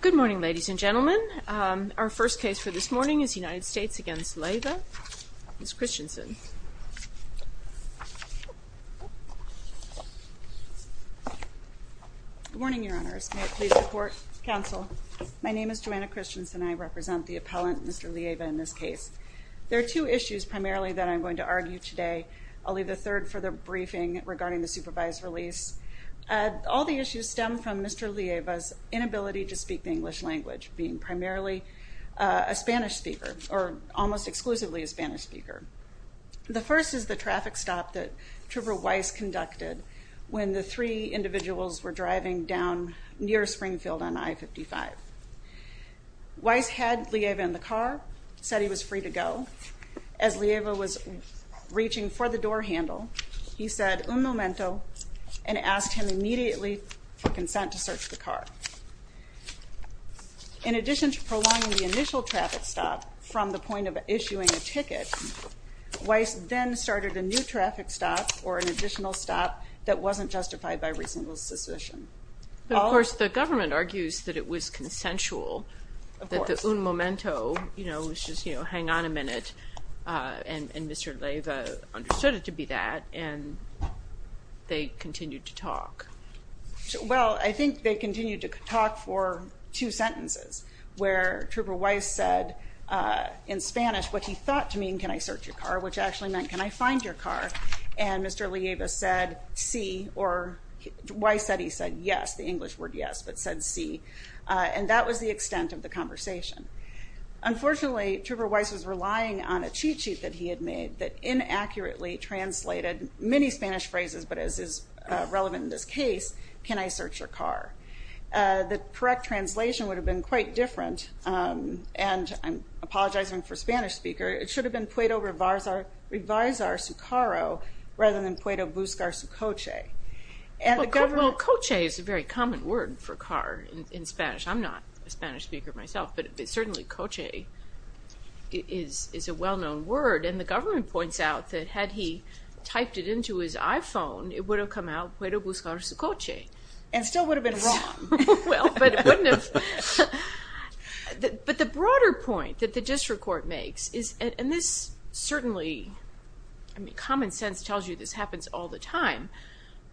Good morning, ladies and gentlemen. Our first case for this morning is United States v. Leiva. Ms. Christensen. Good morning, Your Honors. May it please support counsel. My name is Joanna Christensen. I represent the appellant, Mr. Leiva, in this case. There are two issues primarily that I'm going to argue today. I'll leave the third for the briefing regarding the supervised release. All the issues stem from Mr. Leiva's inability to speak the English language, being primarily a Spanish speaker, or almost exclusively a Spanish speaker. The first is the traffic stop that Trooper Weiss conducted when the three individuals were driving down near Springfield on I-55. Weiss had Leiva in the car, said he was free to go. As Leiva was reaching for the door handle, he said, un momento, and asked him immediately for consent to search the car. In addition to prolonging the initial traffic stop from the point of issuing a ticket, Weiss then started a new traffic stop or an additional stop that wasn't justified by reasonable suspicion. Of course, the government argues that it was consensual, that the un momento, you know, was just, you know, hang on a minute, and Mr. Leiva understood it to be that, and they continued to talk. Well, I think they continued to talk for two sentences, where Trooper Weiss said in Spanish what he thought to mean, can I search your car, which actually meant, can I find your car, and Mr. Leiva said, see, or Weiss said he said, yes, the English word yes, but said see, and that was the extent of the conversation. Unfortunately, Trooper Weiss was relying on a cheat sheet that he had made that inaccurately translated many Spanish phrases, but as is relevant in this case, can I search your car. The correct translation would have been quite different, and I'm apologizing for Spanish speaker, it should have been Puedo Revisor Su Caro, rather than Puedo Buscar Su Coche. Well, coche is a very common word for car in Spanish, and coche is a well-known word, and the government points out that had he typed it into his iPhone, it would have come out Puedo Buscar Su Coche. And still would have been wrong. Well, but the broader point that the district court makes is, and this certainly, I mean, common sense tells you this happens all the time,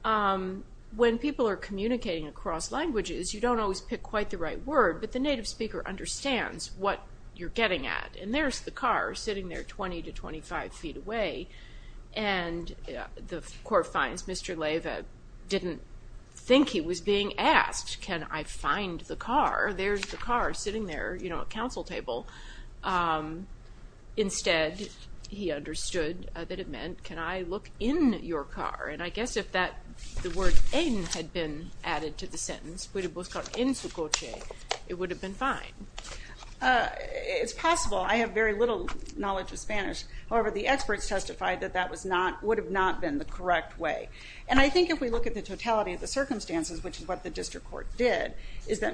when people are communicating across languages, you don't always pick quite the right word, but the native speaker understands what you're getting at, and there's the car sitting there 20 to 25 feet away, and the court finds Mr. Leyva didn't think he was being asked, can I find the car? There's the car sitting there, you know, a council table. Instead, he understood that it meant, can I look in your car? And I guess if that, the word en had been added to the sentence, Puedo Buscar En Su Coche, it would have been fine. It's possible. I have very little knowledge of Spanish, however, the experts testified that that was not, would have not been the correct way, and I think if we look at the totality of the circumstances, which is what the district court did, is that,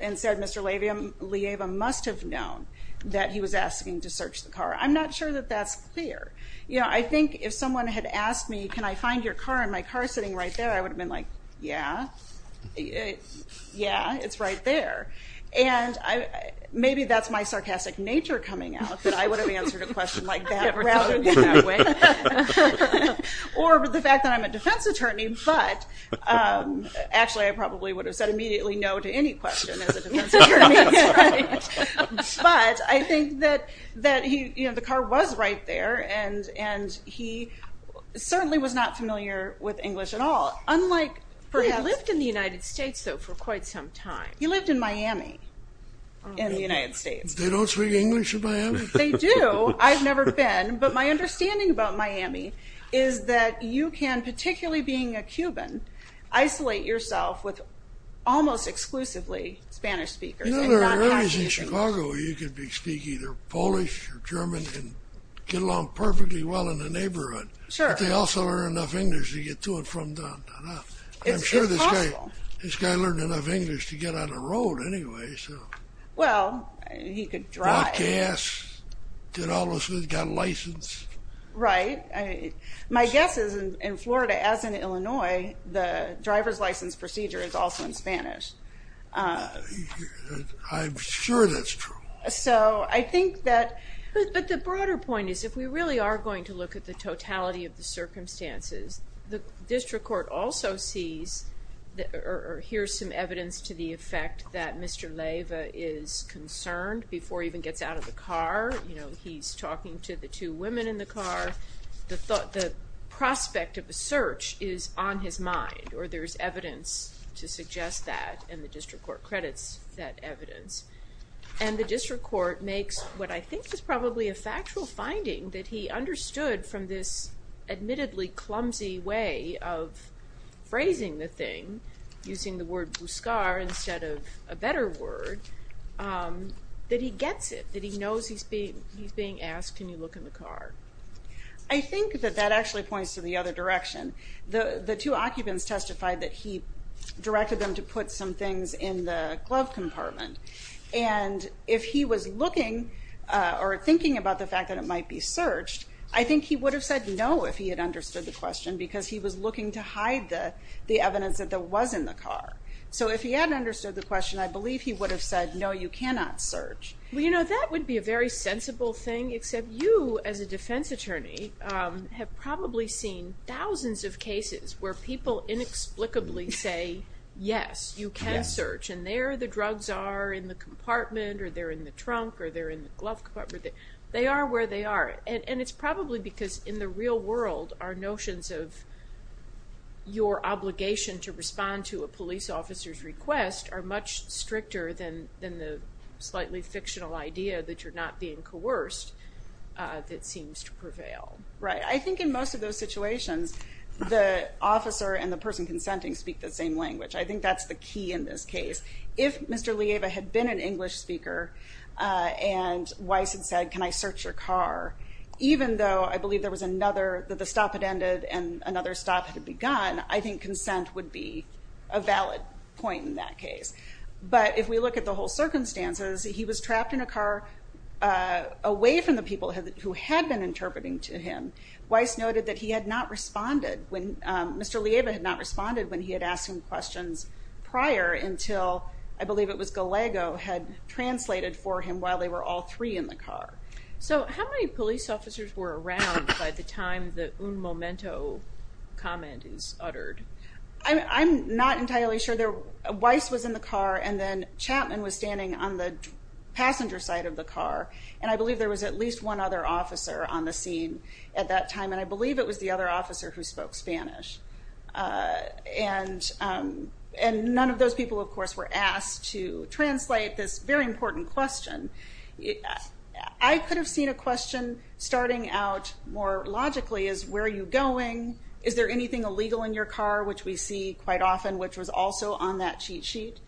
and said Mr. Leyva must have known that he was asking to search the car. I'm not sure that that's clear. You know, I think if someone had asked me, can I find your car, and my car is sitting right there, I would have been like, yeah, yeah, it's right there, and maybe that's my sarcastic nature coming out, that I would have answered a question like that, or the fact that I'm a defense attorney, but actually I probably would have said immediately no to any question as a defense attorney, but I think that he, you know, the car was right there, and he certainly was not familiar with English at all, unlike perhaps... He lived in the United States, though, for quite some time. He lived in Miami in the United States. They don't speak English in Miami? They do. I've never been, but my understanding about Miami is that you can, particularly being a Cuban, isolate yourself with almost exclusively Spanish speakers. You know, there are areas in Chicago where you can speak either Polish or German and get along with English to get to and from. It's possible. I'm sure this guy learned enough English to get on the road anyway, so. Well, he could drive. Got gas, got a license. Right. My guess is in Florida, as in Illinois, the driver's license procedure is also in Spanish. I'm sure that's true. So I think that, but the broader point is, if we really are going to look at the district court also sees, or hears some evidence to the effect that Mr. Leyva is concerned before he even gets out of the car, you know, he's talking to the two women in the car, the thought, the prospect of a search is on his mind, or there's evidence to suggest that, and the district court credits that evidence. And the district court makes what I think is probably a factual finding that he has a way of phrasing the thing, using the word buscar instead of a better word, that he gets it, that he knows he's being asked, can you look in the car? I think that that actually points to the other direction. The two occupants testified that he directed them to put some things in the glove compartment, and if he was looking or thinking about the fact that it might be searched, I think he would have said no if he had understood the question, because he was looking to hide the the evidence that there was in the car. So if he hadn't understood the question, I believe he would have said no, you cannot search. Well, you know, that would be a very sensible thing, except you, as a defense attorney, have probably seen thousands of cases where people inexplicably say yes, you can search, and there the drugs are in the compartment, or they're in the trunk, or they're in the glove compartment. They are where they are, and it's probably because in the real world, our notions of your obligation to respond to a police officer's request are much stricter than than the slightly fictional idea that you're not being coerced that seems to prevail. Right, I think in most of those situations, the officer and the person consenting speak the same language. I think that's the key in this case. If Mr. Lieva had been an though I believe there was another, that the stop had ended and another stop had begun, I think consent would be a valid point in that case. But if we look at the whole circumstances, he was trapped in a car away from the people who had been interpreting to him. Weiss noted that he had not responded when, Mr. Lieva had not responded when he had asked him questions prior until, I believe it was Gallego, had translated for him while they were all three in the car. So how many police officers were around by the time the un momento comment is uttered? I'm not entirely sure. Weiss was in the car and then Chapman was standing on the passenger side of the car, and I believe there was at least one other officer on the scene at that time, and I believe it was the other officer who spoke Spanish. And none of those people, of course, were asked to translate this very important question. I could have seen a question starting out more logically as, where are you going? Is there anything illegal in your car? Which we see quite often, which was also on that cheat sheet.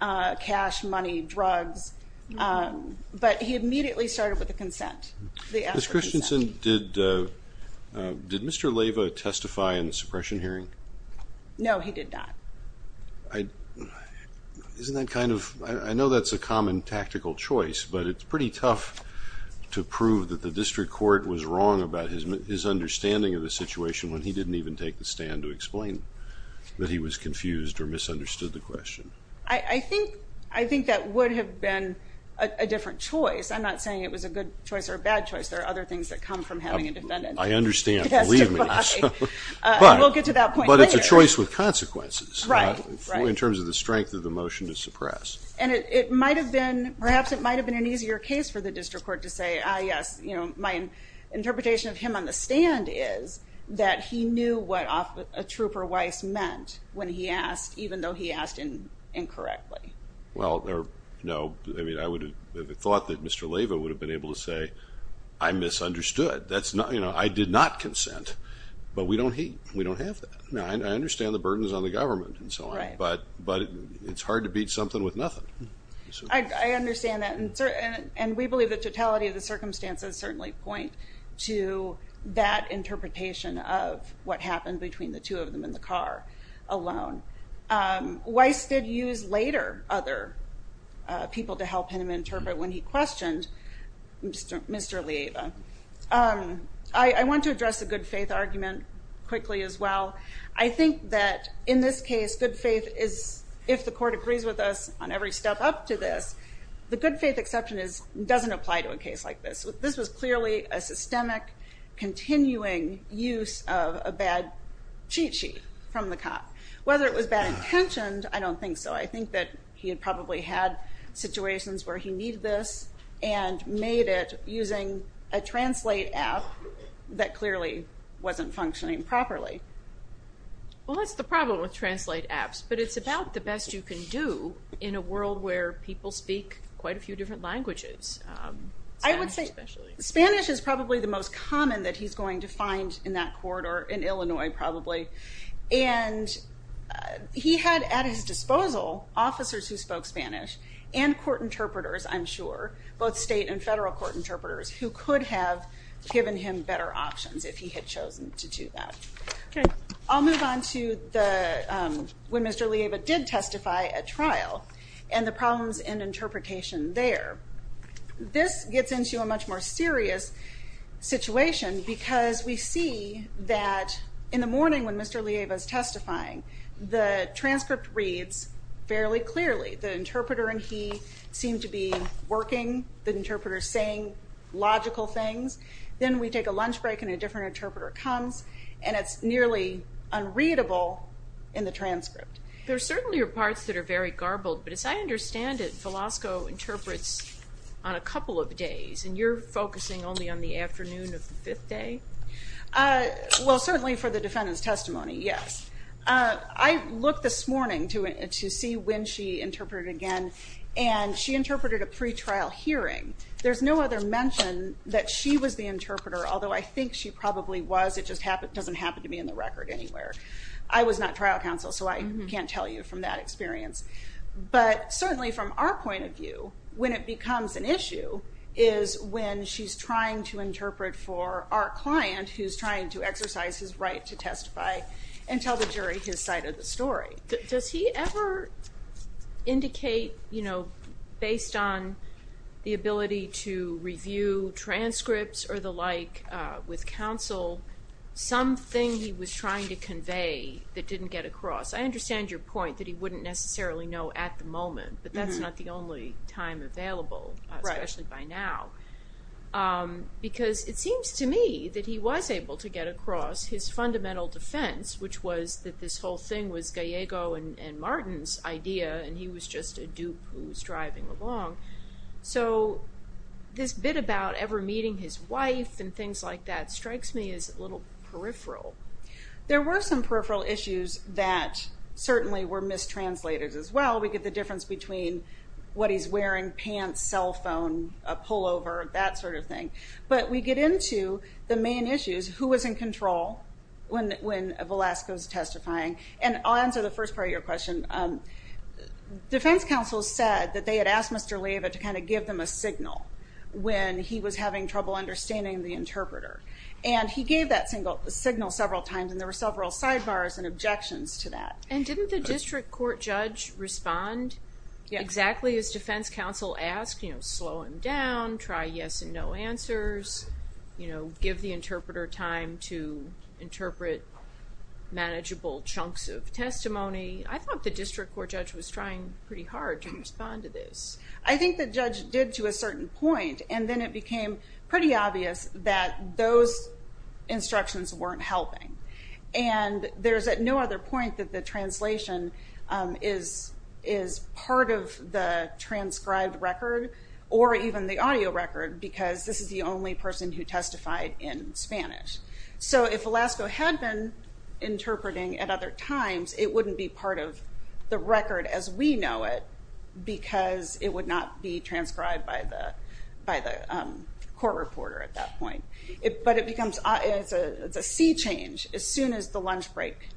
Cash, money, drugs. But he immediately started with the consent. Ms. Christensen, did Mr. Lieva testify in I think that's a common tactical choice, but it's pretty tough to prove that the district court was wrong about his understanding of the situation when he didn't even take the stand to explain that he was confused or misunderstood the question. I think that would have been a different choice. I'm not saying it was a good choice or a bad choice. There are other things that come from having a defendant testify. I understand, believe me. We'll get to that point later. But it's a choice with might have been, perhaps it might have been an easier case for the district court to say, ah yes, you know, my interpretation of him on the stand is that he knew what a trooper vice meant when he asked, even though he asked incorrectly. Well, no. I mean, I would have thought that Mr. Lieva would have been able to say, I misunderstood. That's not, you know, I did not consent. But we don't hate, we don't have that. I understand the burdens on the government and so on. But it's hard to beat something with nothing. I understand that and we believe the totality of the circumstances certainly point to that interpretation of what happened between the two of them in the car alone. Weiss did use later other people to help him interpret when he questioned Mr. Lieva. I want to address a good-faith argument quickly as well. I think that in this case, good faith is, if the court agrees with us on every step up to this, the good-faith exception doesn't apply to a case like this. This was clearly a systemic, continuing use of a bad cheat sheet from the cop. Whether it was bad intentioned, I don't think so. I think that he had probably had situations where he needed this and made it using a translate app that clearly wasn't functioning properly. Well that's the problem with translate apps, but it's about the best you can do in a world where people speak quite a few different languages. I would say Spanish is probably the most common that he's going to find in that court or in Illinois probably. And he had at his disposal officers who spoke Spanish and court interpreters, I'm sure, both state and I'll move on to when Mr. Lieva did testify at trial and the problems in interpretation there. This gets into a much more serious situation because we see that in the morning when Mr. Lieva is testifying, the transcript reads fairly clearly. The interpreter and he seem to be working, the interpreter saying logical things. Then we take a lunch break and a different interpreter comes and it's nearly unreadable in the transcript. There certainly are parts that are very garbled, but as I understand it, Velasco interprets on a couple of days and you're focusing only on the afternoon of the fifth day? Well certainly for the defendant's testimony, yes. I looked this morning to see when she interpreted again and she interpreted a pretrial hearing. There's no other mention that she was the interpreter, although I think she probably was, it just doesn't happen to be in the record anywhere. I was not trial counsel so I can't tell you from that experience. But certainly from our point of view, when it becomes an issue is when she's trying to interpret for our client who's trying to exercise his right to testify and tell the jury his side of the story. Does he ever indicate, you know, based on the ability to review transcripts or the like with counsel, something he was trying to convey that didn't get across? I understand your point that he wouldn't necessarily know at the moment, but that's not the only time available, especially by now. Because it seems to me that he was able to get across his fundamental defense, which was that this whole thing was Gallego and Martin's idea and he was just a dupe who was driving along. So this bit about ever meeting his wife and things like that strikes me as a little peripheral. There were some peripheral issues that certainly were mistranslated as well. We get the difference between what he's wearing, pants, cell phone, a pullover, that sort of thing. But we get into the main issues, who was in control when Velasco's testifying. And I'll answer the first part of your question. Defense counsel said that they had asked Mr. Leyva to kind of give them a signal when he was having trouble understanding the interpreter. And he gave that single signal several times and there were several sidebars and objections to that. And didn't the district court judge respond exactly as defense counsel asked? You know, slow him down, try yes and no answers, you know, give the interpreter time to interpret manageable chunks of testimony. I thought the district court judge was trying pretty hard to respond to this. I think the judge did to a certain point and then it became pretty obvious that those instructions weren't helping. And there's at no other point that the translation is part of the transcribed record or even the audio record because this is the only person who testified in Spanish. So if Velasco had been interpreting at other times it wouldn't be part of the record as we know it because it would not be transcribed by the court reporter at that point. But it becomes, it's a sea change as soon as the lunch break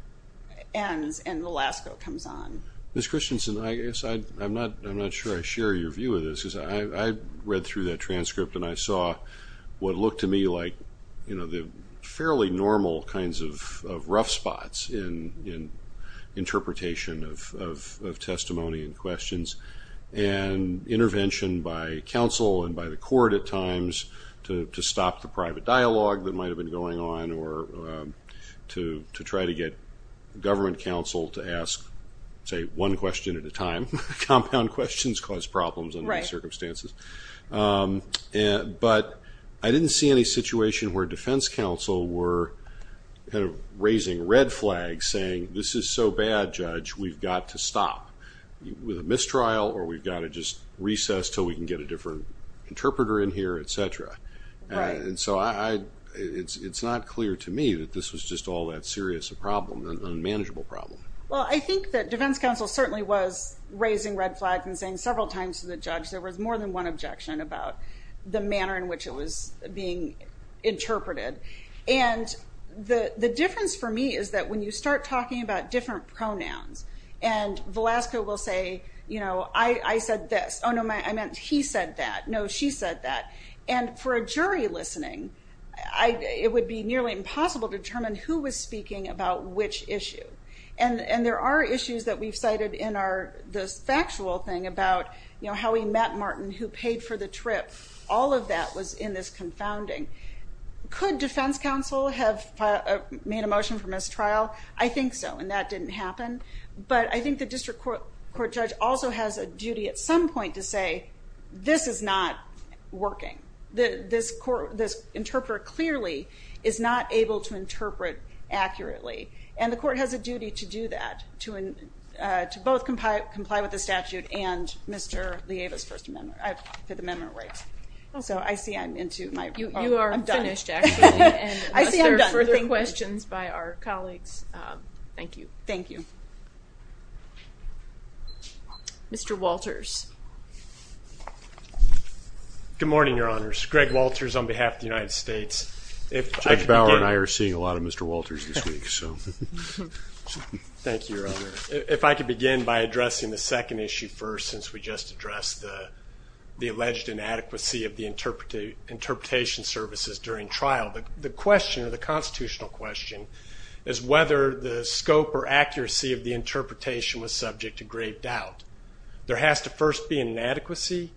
ends and Velasco comes on. Ms. Christensen, I guess I'm not sure I share your view of this. I read through that transcript and I saw what looked to me like, you know, the fairly normal kinds of rough spots in interpretation of testimony and questions and intervention by counsel and by the court at times to stop the private dialogue that might have been going on or to try to get government counsel to ask, say, one question at a time. Compound questions cause problems under these circumstances. But I didn't see any situation where Defense Counsel were kind of raising red flags saying this is so bad, Judge, we've got to stop with a mistrial or we've got to just recess till we can get a different interpreter in here, etc. And so it's not clear to me that this was just all that serious a problem, an unmanageable problem. Well, I think that Defense Counsel raised red flags and saying several times to the judge there was more than one objection about the manner in which it was being interpreted. And the difference for me is that when you start talking about different pronouns and Velasco will say, you know, I said this. Oh no, I meant he said that. No, she said that. And for a jury listening, it would be nearly impossible to determine who was speaking about which issue. And there are issues that we've cited in our, the factual thing about, you know, how we met Martin, who paid for the trip. All of that was in this confounding. Could Defense Counsel have made a motion for mistrial? I think so, and that didn't happen. But I think the district court judge also has a duty at some point to say this is not working. This interpreter clearly is not able to interpret accurately. And the court has a duty to comply with the statute and Mr. Lieva's first amendment, for the memorandum rights. So I see I'm into my... You are finished actually. I see I'm done. Further questions by our colleagues? Thank you. Thank you. Mr. Walters. Good morning your honors. Greg Walters on behalf of the United States. Judge Bauer and I are seeing a lot of Mr. Walters this week. Thank you your honor. If I could begin by addressing the second issue first, since we just addressed the alleged inadequacy of the interpretation services during trial. The question, the constitutional question, is whether the scope or accuracy of the interpretation was subject to grave doubt. There has to first be an inadequacy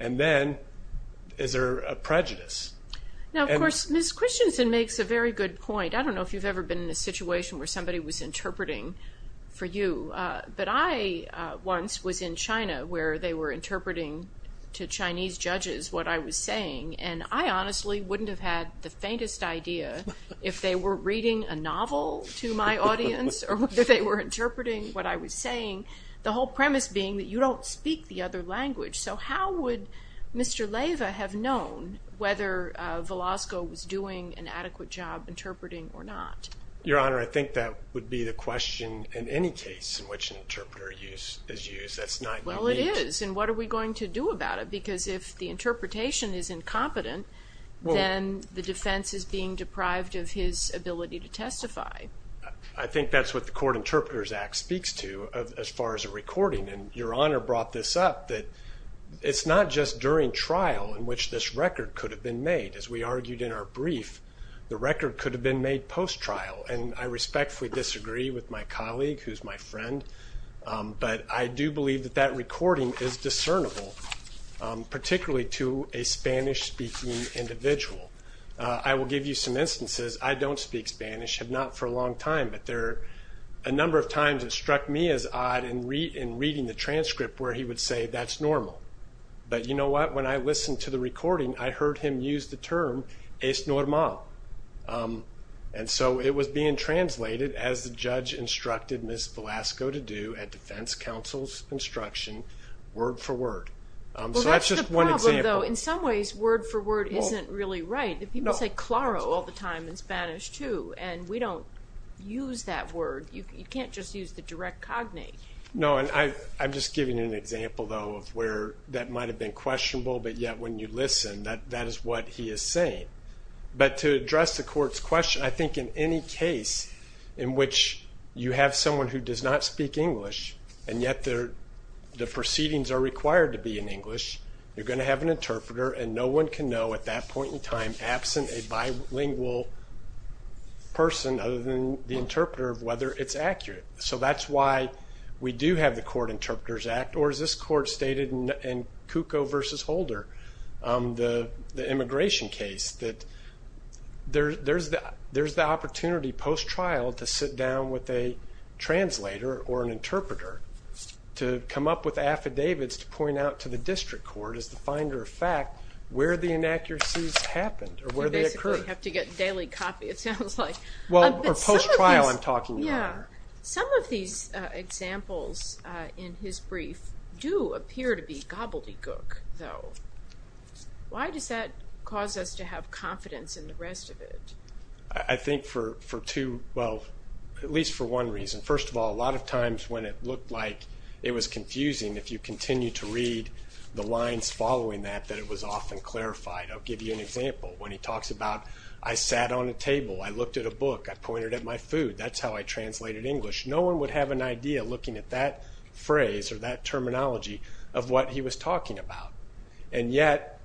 and then is there a prejudice? Now of course Ms. Christensen makes a very good point. I don't know if you've ever been in a situation where somebody was interpreting for you, but I once was in China where they were interpreting to Chinese judges what I was saying. And I honestly wouldn't have had the faintest idea if they were reading a novel to my audience or whether they were interpreting what I was saying. The whole premise being that you don't speak the other language. So how would Mr. Lieva have known whether Velasco was doing an adequate job interpreting or not? Your honor, I think that would be the question in any case in which an interpreter is used. Well it is, and what are we going to do about it? Because if the interpretation is incompetent, then the defense is being deprived of his ability to testify. I think that's what the Court Interpreters Act speaks to as far as a recording. And your honor brought this up that it's not just during trial in which this record could have been made. As we argued in our brief, the record could have been made post trial. And I respectfully disagree with my colleague who's my friend. But I do believe that that recording is discernible, particularly to a Spanish-speaking individual. I will give you some instances. I don't speak Spanish, have not for a long time, but there are a number of times it struck me as odd in reading the transcript where he would say that's normal. But you know what? When I listened to the recording, I heard him use the term es normal. And so it was being translated as the judge instructed Ms. Velasco to do at defense counsel's instruction, word for word. So that's just one example. Well that's the problem though. In some ways, word for word isn't really right. People say claro all the time in Spanish too, and we don't use that word. You can't just use the direct cognate. No, and I'm just giving you an example though of where that might have been questionable, but yet when you listen that that is what he is saying. But to address the court's question, I think in any case in which you have someone who does not speak English and yet the proceedings are required to be in English, you're going to have an interpreter and no one can know at that point in time, absent a bilingual person other than the interpreter, of whether it's accurate. So that's why we do have the Court Interpreters Act, or as this court stated in Cucco v. Holder, the opportunity post-trial to sit down with a translator or an interpreter to come up with affidavits to point out to the district court as the finder of fact where the inaccuracies happened or where they occurred. You basically have to get daily copy it sounds like. Well, or post-trial I'm talking about. Some of these examples in his brief do appear to be gobbledygook though. Why does that cause us to have confidence in the rest of it? I think for two, well at least for one reason. First of all, a lot of times when it looked like it was confusing, if you continue to read the lines following that, that it was often clarified. I'll give you an example. When he talks about, I sat on a table, I looked at a book, I pointed at my food. That's how I translated English. No one would have an idea looking at that phrase or that terminology of what he was talking about. And yet,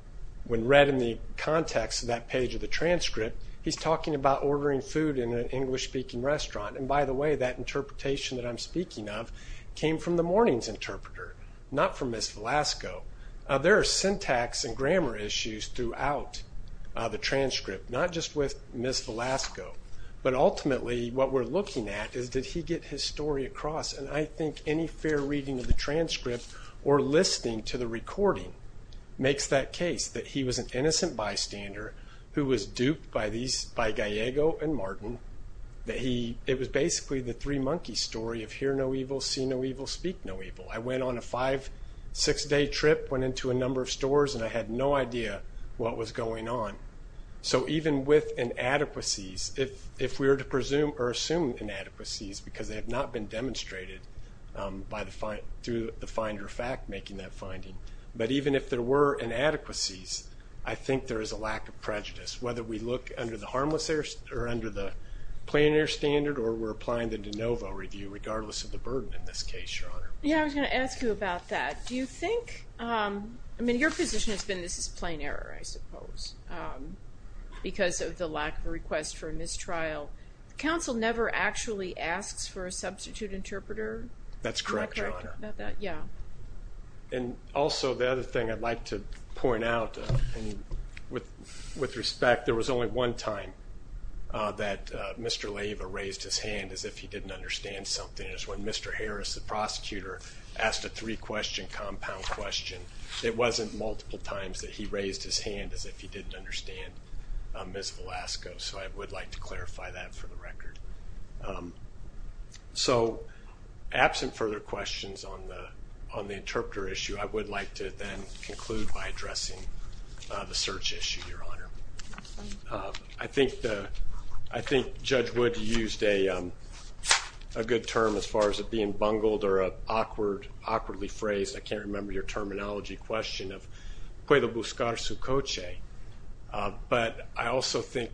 when read in the context of that page of the transcript, he's talking about ordering food in an English-speaking restaurant. And by the way, that interpretation that I'm speaking of came from the morning's interpreter, not from Ms. Velasco. There are syntax and grammar issues throughout the transcript, not just with Ms. Velasco. But ultimately what we're looking at is did he get his story across? And I think any fair reading of the transcript or listening to the recording makes that case, that he was an innocent bystander who was duped by these, by Gallego and Martin, that he, it was basically the three monkey story of hear no evil, see no evil, speak no evil. I went on a five, six-day trip, went into a number of stores, and I had no idea what was going on. So even with inadequacies, if we were to presume or assume inadequacies because they have not been demonstrated by the find, through the finder fact making that finding, but even if there were inadequacies, I think there is a lack of prejudice. Whether we look under the harmless error, or under the plain error standard, or we're applying the de novo review, regardless of the burden in this case, Your Honor. Yeah, I was gonna ask you about that. Do you think, I mean, your position has been this is plain error, I suppose, because of the lack of a request for a mistrial. Counsel never actually asks for a substitute interpreter? That's correct, Your Honor. Yeah. And also the other thing I'd like to point out, and with respect, there was only one time that Mr. Leyva raised his hand as if he didn't understand something. It was when Mr. Harris, the prosecutor, asked a three-question compound question. It wasn't multiple times that he raised his hand as if he didn't understand Ms. Velasco, so I would like to clarify that for the record. So absent further questions on the interpreter issue, I would like to then conclude by addressing the search issue, Your Honor. I think Judge Wood used a good term as far as it being bungled, or an awkwardly phrased, I can't think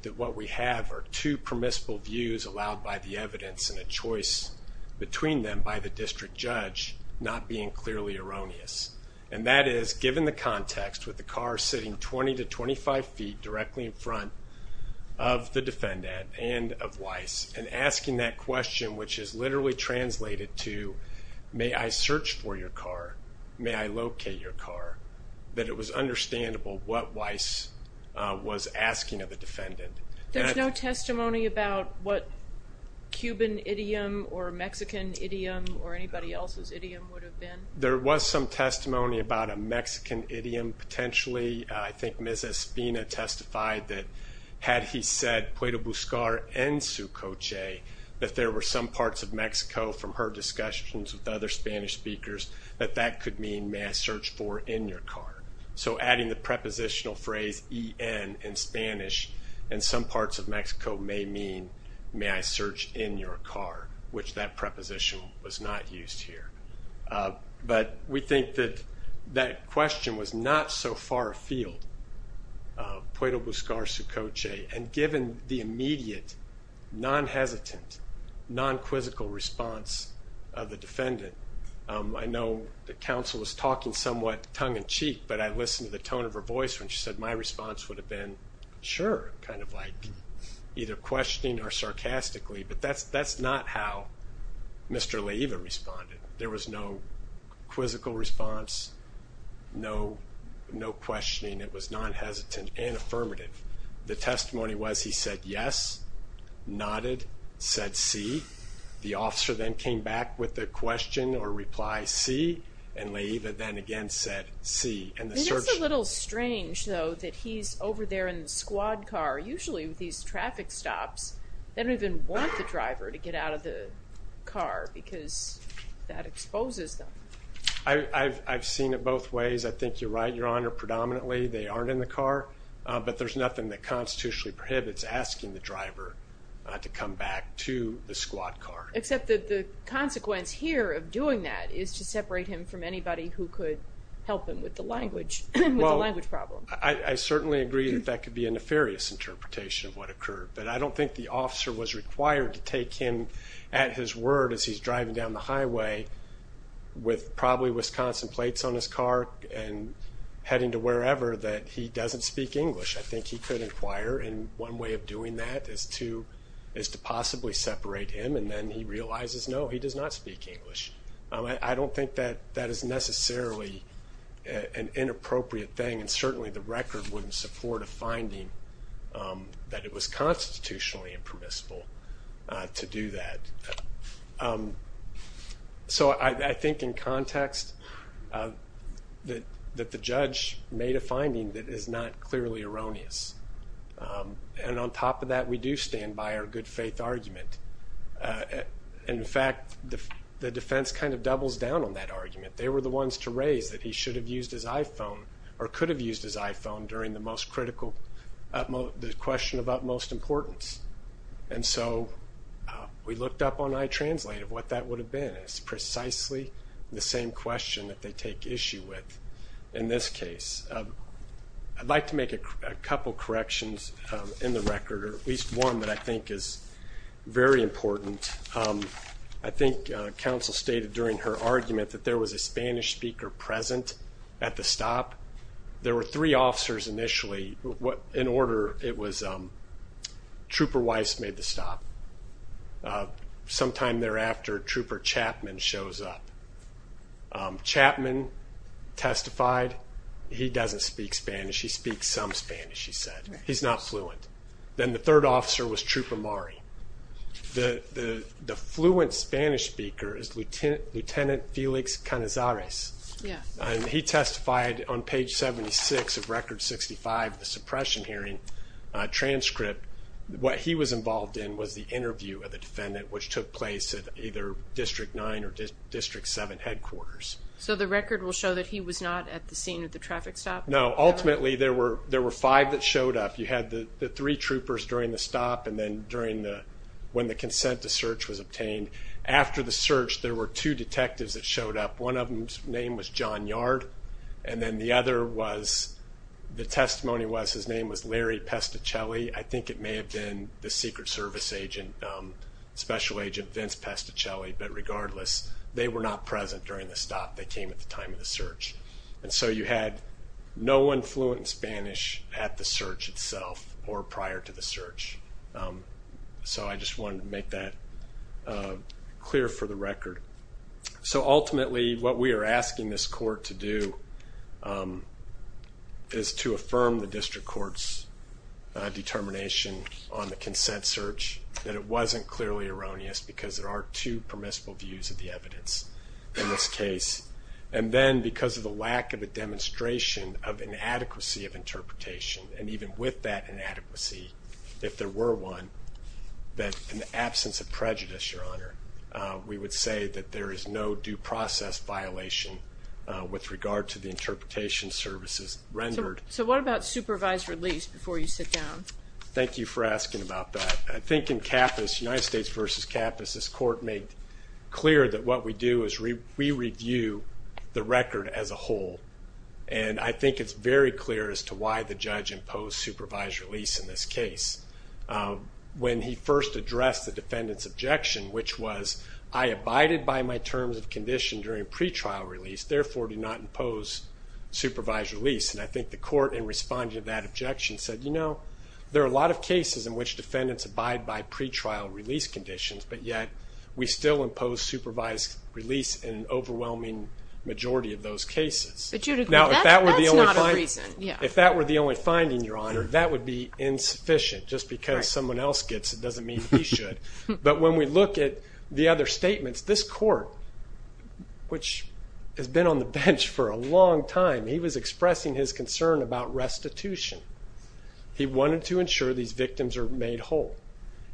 that what we have are two permissible views allowed by the evidence and a choice between them by the district judge not being clearly erroneous. And that is, given the context with the car sitting 20 to 25 feet directly in front of the defendant and of Weiss, and asking that question which is literally translated to, may I search for your car, may I locate your car, that it was understandable what Weiss was asking of the defendant. There's no testimony about what Cuban idiom or Mexican idiom or anybody else's idiom would have been? There was some testimony about a Mexican idiom, potentially. I think Ms. Espina testified that had he said, puedo buscar en su coche, that there were some parts of Mexico from her discussions with other Spanish speakers that that could mean, may I search for in your car. So adding the prepositional phrase EN in Spanish in some parts of Mexico may mean, may I search in your car, which that preposition was not used here. But we think that that question was not so far afield, puedo buscar su coche, and given the immediate, non-hesitant, non-quizzical response of the defendant, I know the counsel was talking somewhat tongue-in-cheek, but I listened to the tone of her voice when she said my response would have been, sure, kind of like either questioning or sarcastically, but that's that's not how Mr. Leiva responded. There was no quizzical response, no questioning, it was non-hesitant and affirmative. The officer then came back with the question or reply C, and Leiva then again said C. It's a little strange though that he's over there in the squad car, usually with these traffic stops, they don't even want the driver to get out of the car because that exposes them. I've seen it both ways, I think you're right Your Honor, predominantly they aren't in the car, but there's nothing that the squad car. Except that the consequence here of doing that is to separate him from anybody who could help him with the language, with the language problem. I certainly agree that that could be a nefarious interpretation of what occurred, but I don't think the officer was required to take him at his word as he's driving down the highway with probably Wisconsin plates on his car and heading to wherever that he doesn't speak English. I think he could require in one way of doing that is to is to possibly separate him and then he realizes no he does not speak English. I don't think that that is necessarily an inappropriate thing and certainly the record wouldn't support a finding that it was constitutionally impermissible to do that. So I think in context that the judge made a finding that is not clearly erroneous and on top of that we do stand by our good-faith argument. In fact, the defense kind of doubles down on that argument. They were the ones to raise that he should have used his iPhone or could have used his iPhone during the most critical, the question of utmost importance. And so we looked up on iTranslate of what that would have been. It's precisely the same question that they take issue with in this case. I'd like to make a couple corrections in the record or at least one that I think is very important. I think counsel stated during her argument that there was a Spanish speaker present at the stop. There were three officers initially what in order it was Trooper Weiss made the stop. Sometime thereafter, Trooper Chapman shows up. Chapman testified. He doesn't speak Spanish. He speaks some Spanish, he said. He's not fluent. Then the third officer was Trooper Mari. The fluent Spanish speaker is Lieutenant Felix Canizares. He testified on page 76 of Record 65, the suppression hearing transcript. What he was involved in was the interview of the defendant which took place at either District 9 or District 7 headquarters. So the record will show that he was not at the scene of the traffic stop? No, ultimately there were there were five that showed up. You had the three troopers during the stop and then during the when the consent to search was obtained. After the search there were two detectives that showed up. One of them's name was John Yard and then the other was, the testimony was, his Secret Service agent, Special Agent Vince Pesticelli, but regardless they were not present during the stop. They came at the time of the search and so you had no one fluent in Spanish at the search itself or prior to the search. So I just wanted to make that clear for the record. So ultimately what we are asking this court to do is to affirm the district court's determination on the consent search that it wasn't clearly erroneous because there are two permissible views of the evidence in this case and then because of the lack of a demonstration of inadequacy of interpretation and even with that inadequacy, if there were one, that in the absence of prejudice, Your Honor, we would say that there is no due process violation with regard to the interpretation services rendered. So what about supervised release before you sit down? Thank you for asking about that. I think in Cappas, United States v. Cappas, this court made clear that what we do is we review the record as a whole and I think it's very clear as to why the judge imposed supervised release in this case. When he first addressed the defendant's objection, which was, I abided by my terms of condition during pretrial release, therefore do not impose supervised release, and I think the respondent of that objection said, you know, there are a lot of cases in which defendants abide by pretrial release conditions, but yet we still impose supervised release in an overwhelming majority of those cases. Now if that were the only finding, Your Honor, that would be insufficient. Just because someone else gets it doesn't mean he should. But when we look at the other statements, this court, which has been on the bench for a long time, he was a constitutional institution. He wanted to ensure these victims are made whole.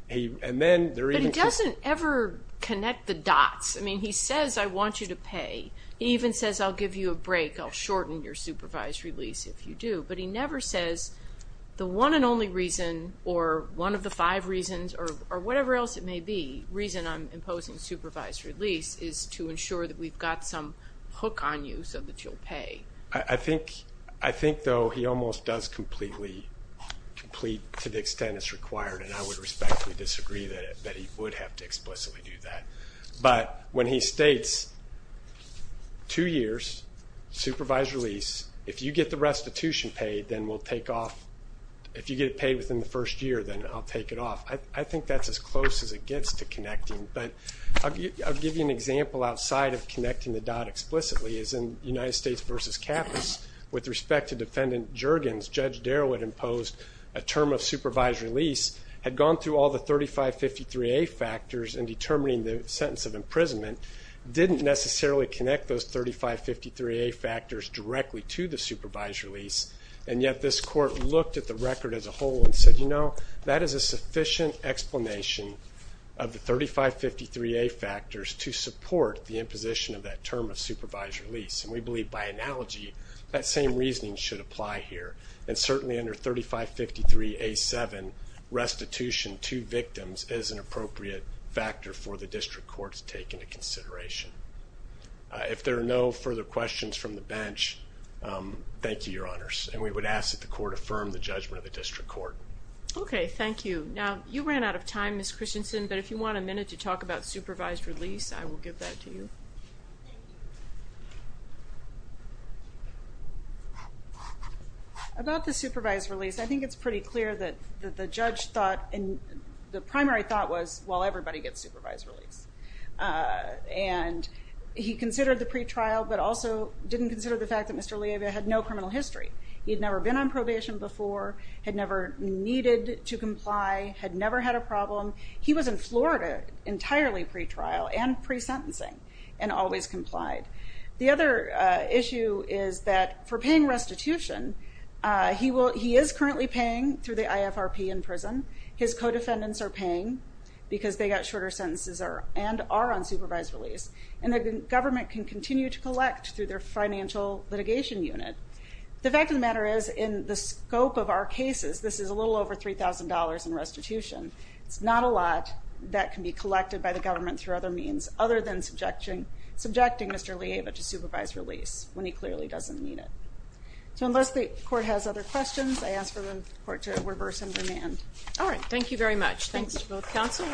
But he doesn't ever connect the dots. I mean, he says I want you to pay. He even says I'll give you a break, I'll shorten your supervised release if you do, but he never says the one and only reason or one of the five reasons or whatever else it may be, the reason I'm imposing supervised release is to ensure that we've got some pay. I think, though, he almost does completely, to the extent it's required, and I would respectfully disagree that he would have to explicitly do that. But when he states two years, supervised release, if you get the restitution paid, then we'll take off, if you get it paid within the first year, then I'll take it off. I think that's as close as it gets to connecting, but I'll give you an example outside of connecting the dot explicitly, is in United States v. Cappos, with respect to defendant Juergens, Judge Darrow had imposed a term of supervised release, had gone through all the 3553A factors in determining the sentence of imprisonment, didn't necessarily connect those 3553A factors directly to the supervised release, and yet this court looked at the record as a whole and said, you know, that is a sufficient explanation of the 3553A factors to support the imposition of that term of supervised release, and we believe, by analogy, that same reasoning should apply here. And certainly under 3553A7, restitution to victims is an appropriate factor for the District Court to take into consideration. If there are no further questions from the bench, thank you, Your Honors, and we would ask that the Court affirm the judgment of the District Court. Okay, thank you. Now, you ran out of time, Ms. Christensen, but if you want a minute to talk about supervised release, I will give that to you. About the supervised release, I think it's pretty clear that the judge thought, and the primary thought was, well, everybody gets supervised release, and he considered the pretrial, but also didn't consider the fact that Mr. Leavia had no criminal history. He'd never been on probation before, had never needed to pre-sentencing, and always complied. The other issue is that for paying restitution, he is currently paying through the IFRP in prison. His co-defendants are paying because they got shorter sentences and are on supervised release, and the government can continue to collect through their financial litigation unit. The fact of the matter is, in the scope of our cases, this is a little over $3,000 in restitution. It's not a lot that can be other than subjecting Mr. Leavia to supervised release, when he clearly doesn't need it. So, unless the court has other questions, I ask for the court to reverse and remand. All right, thank you very much. Thanks to both counsel.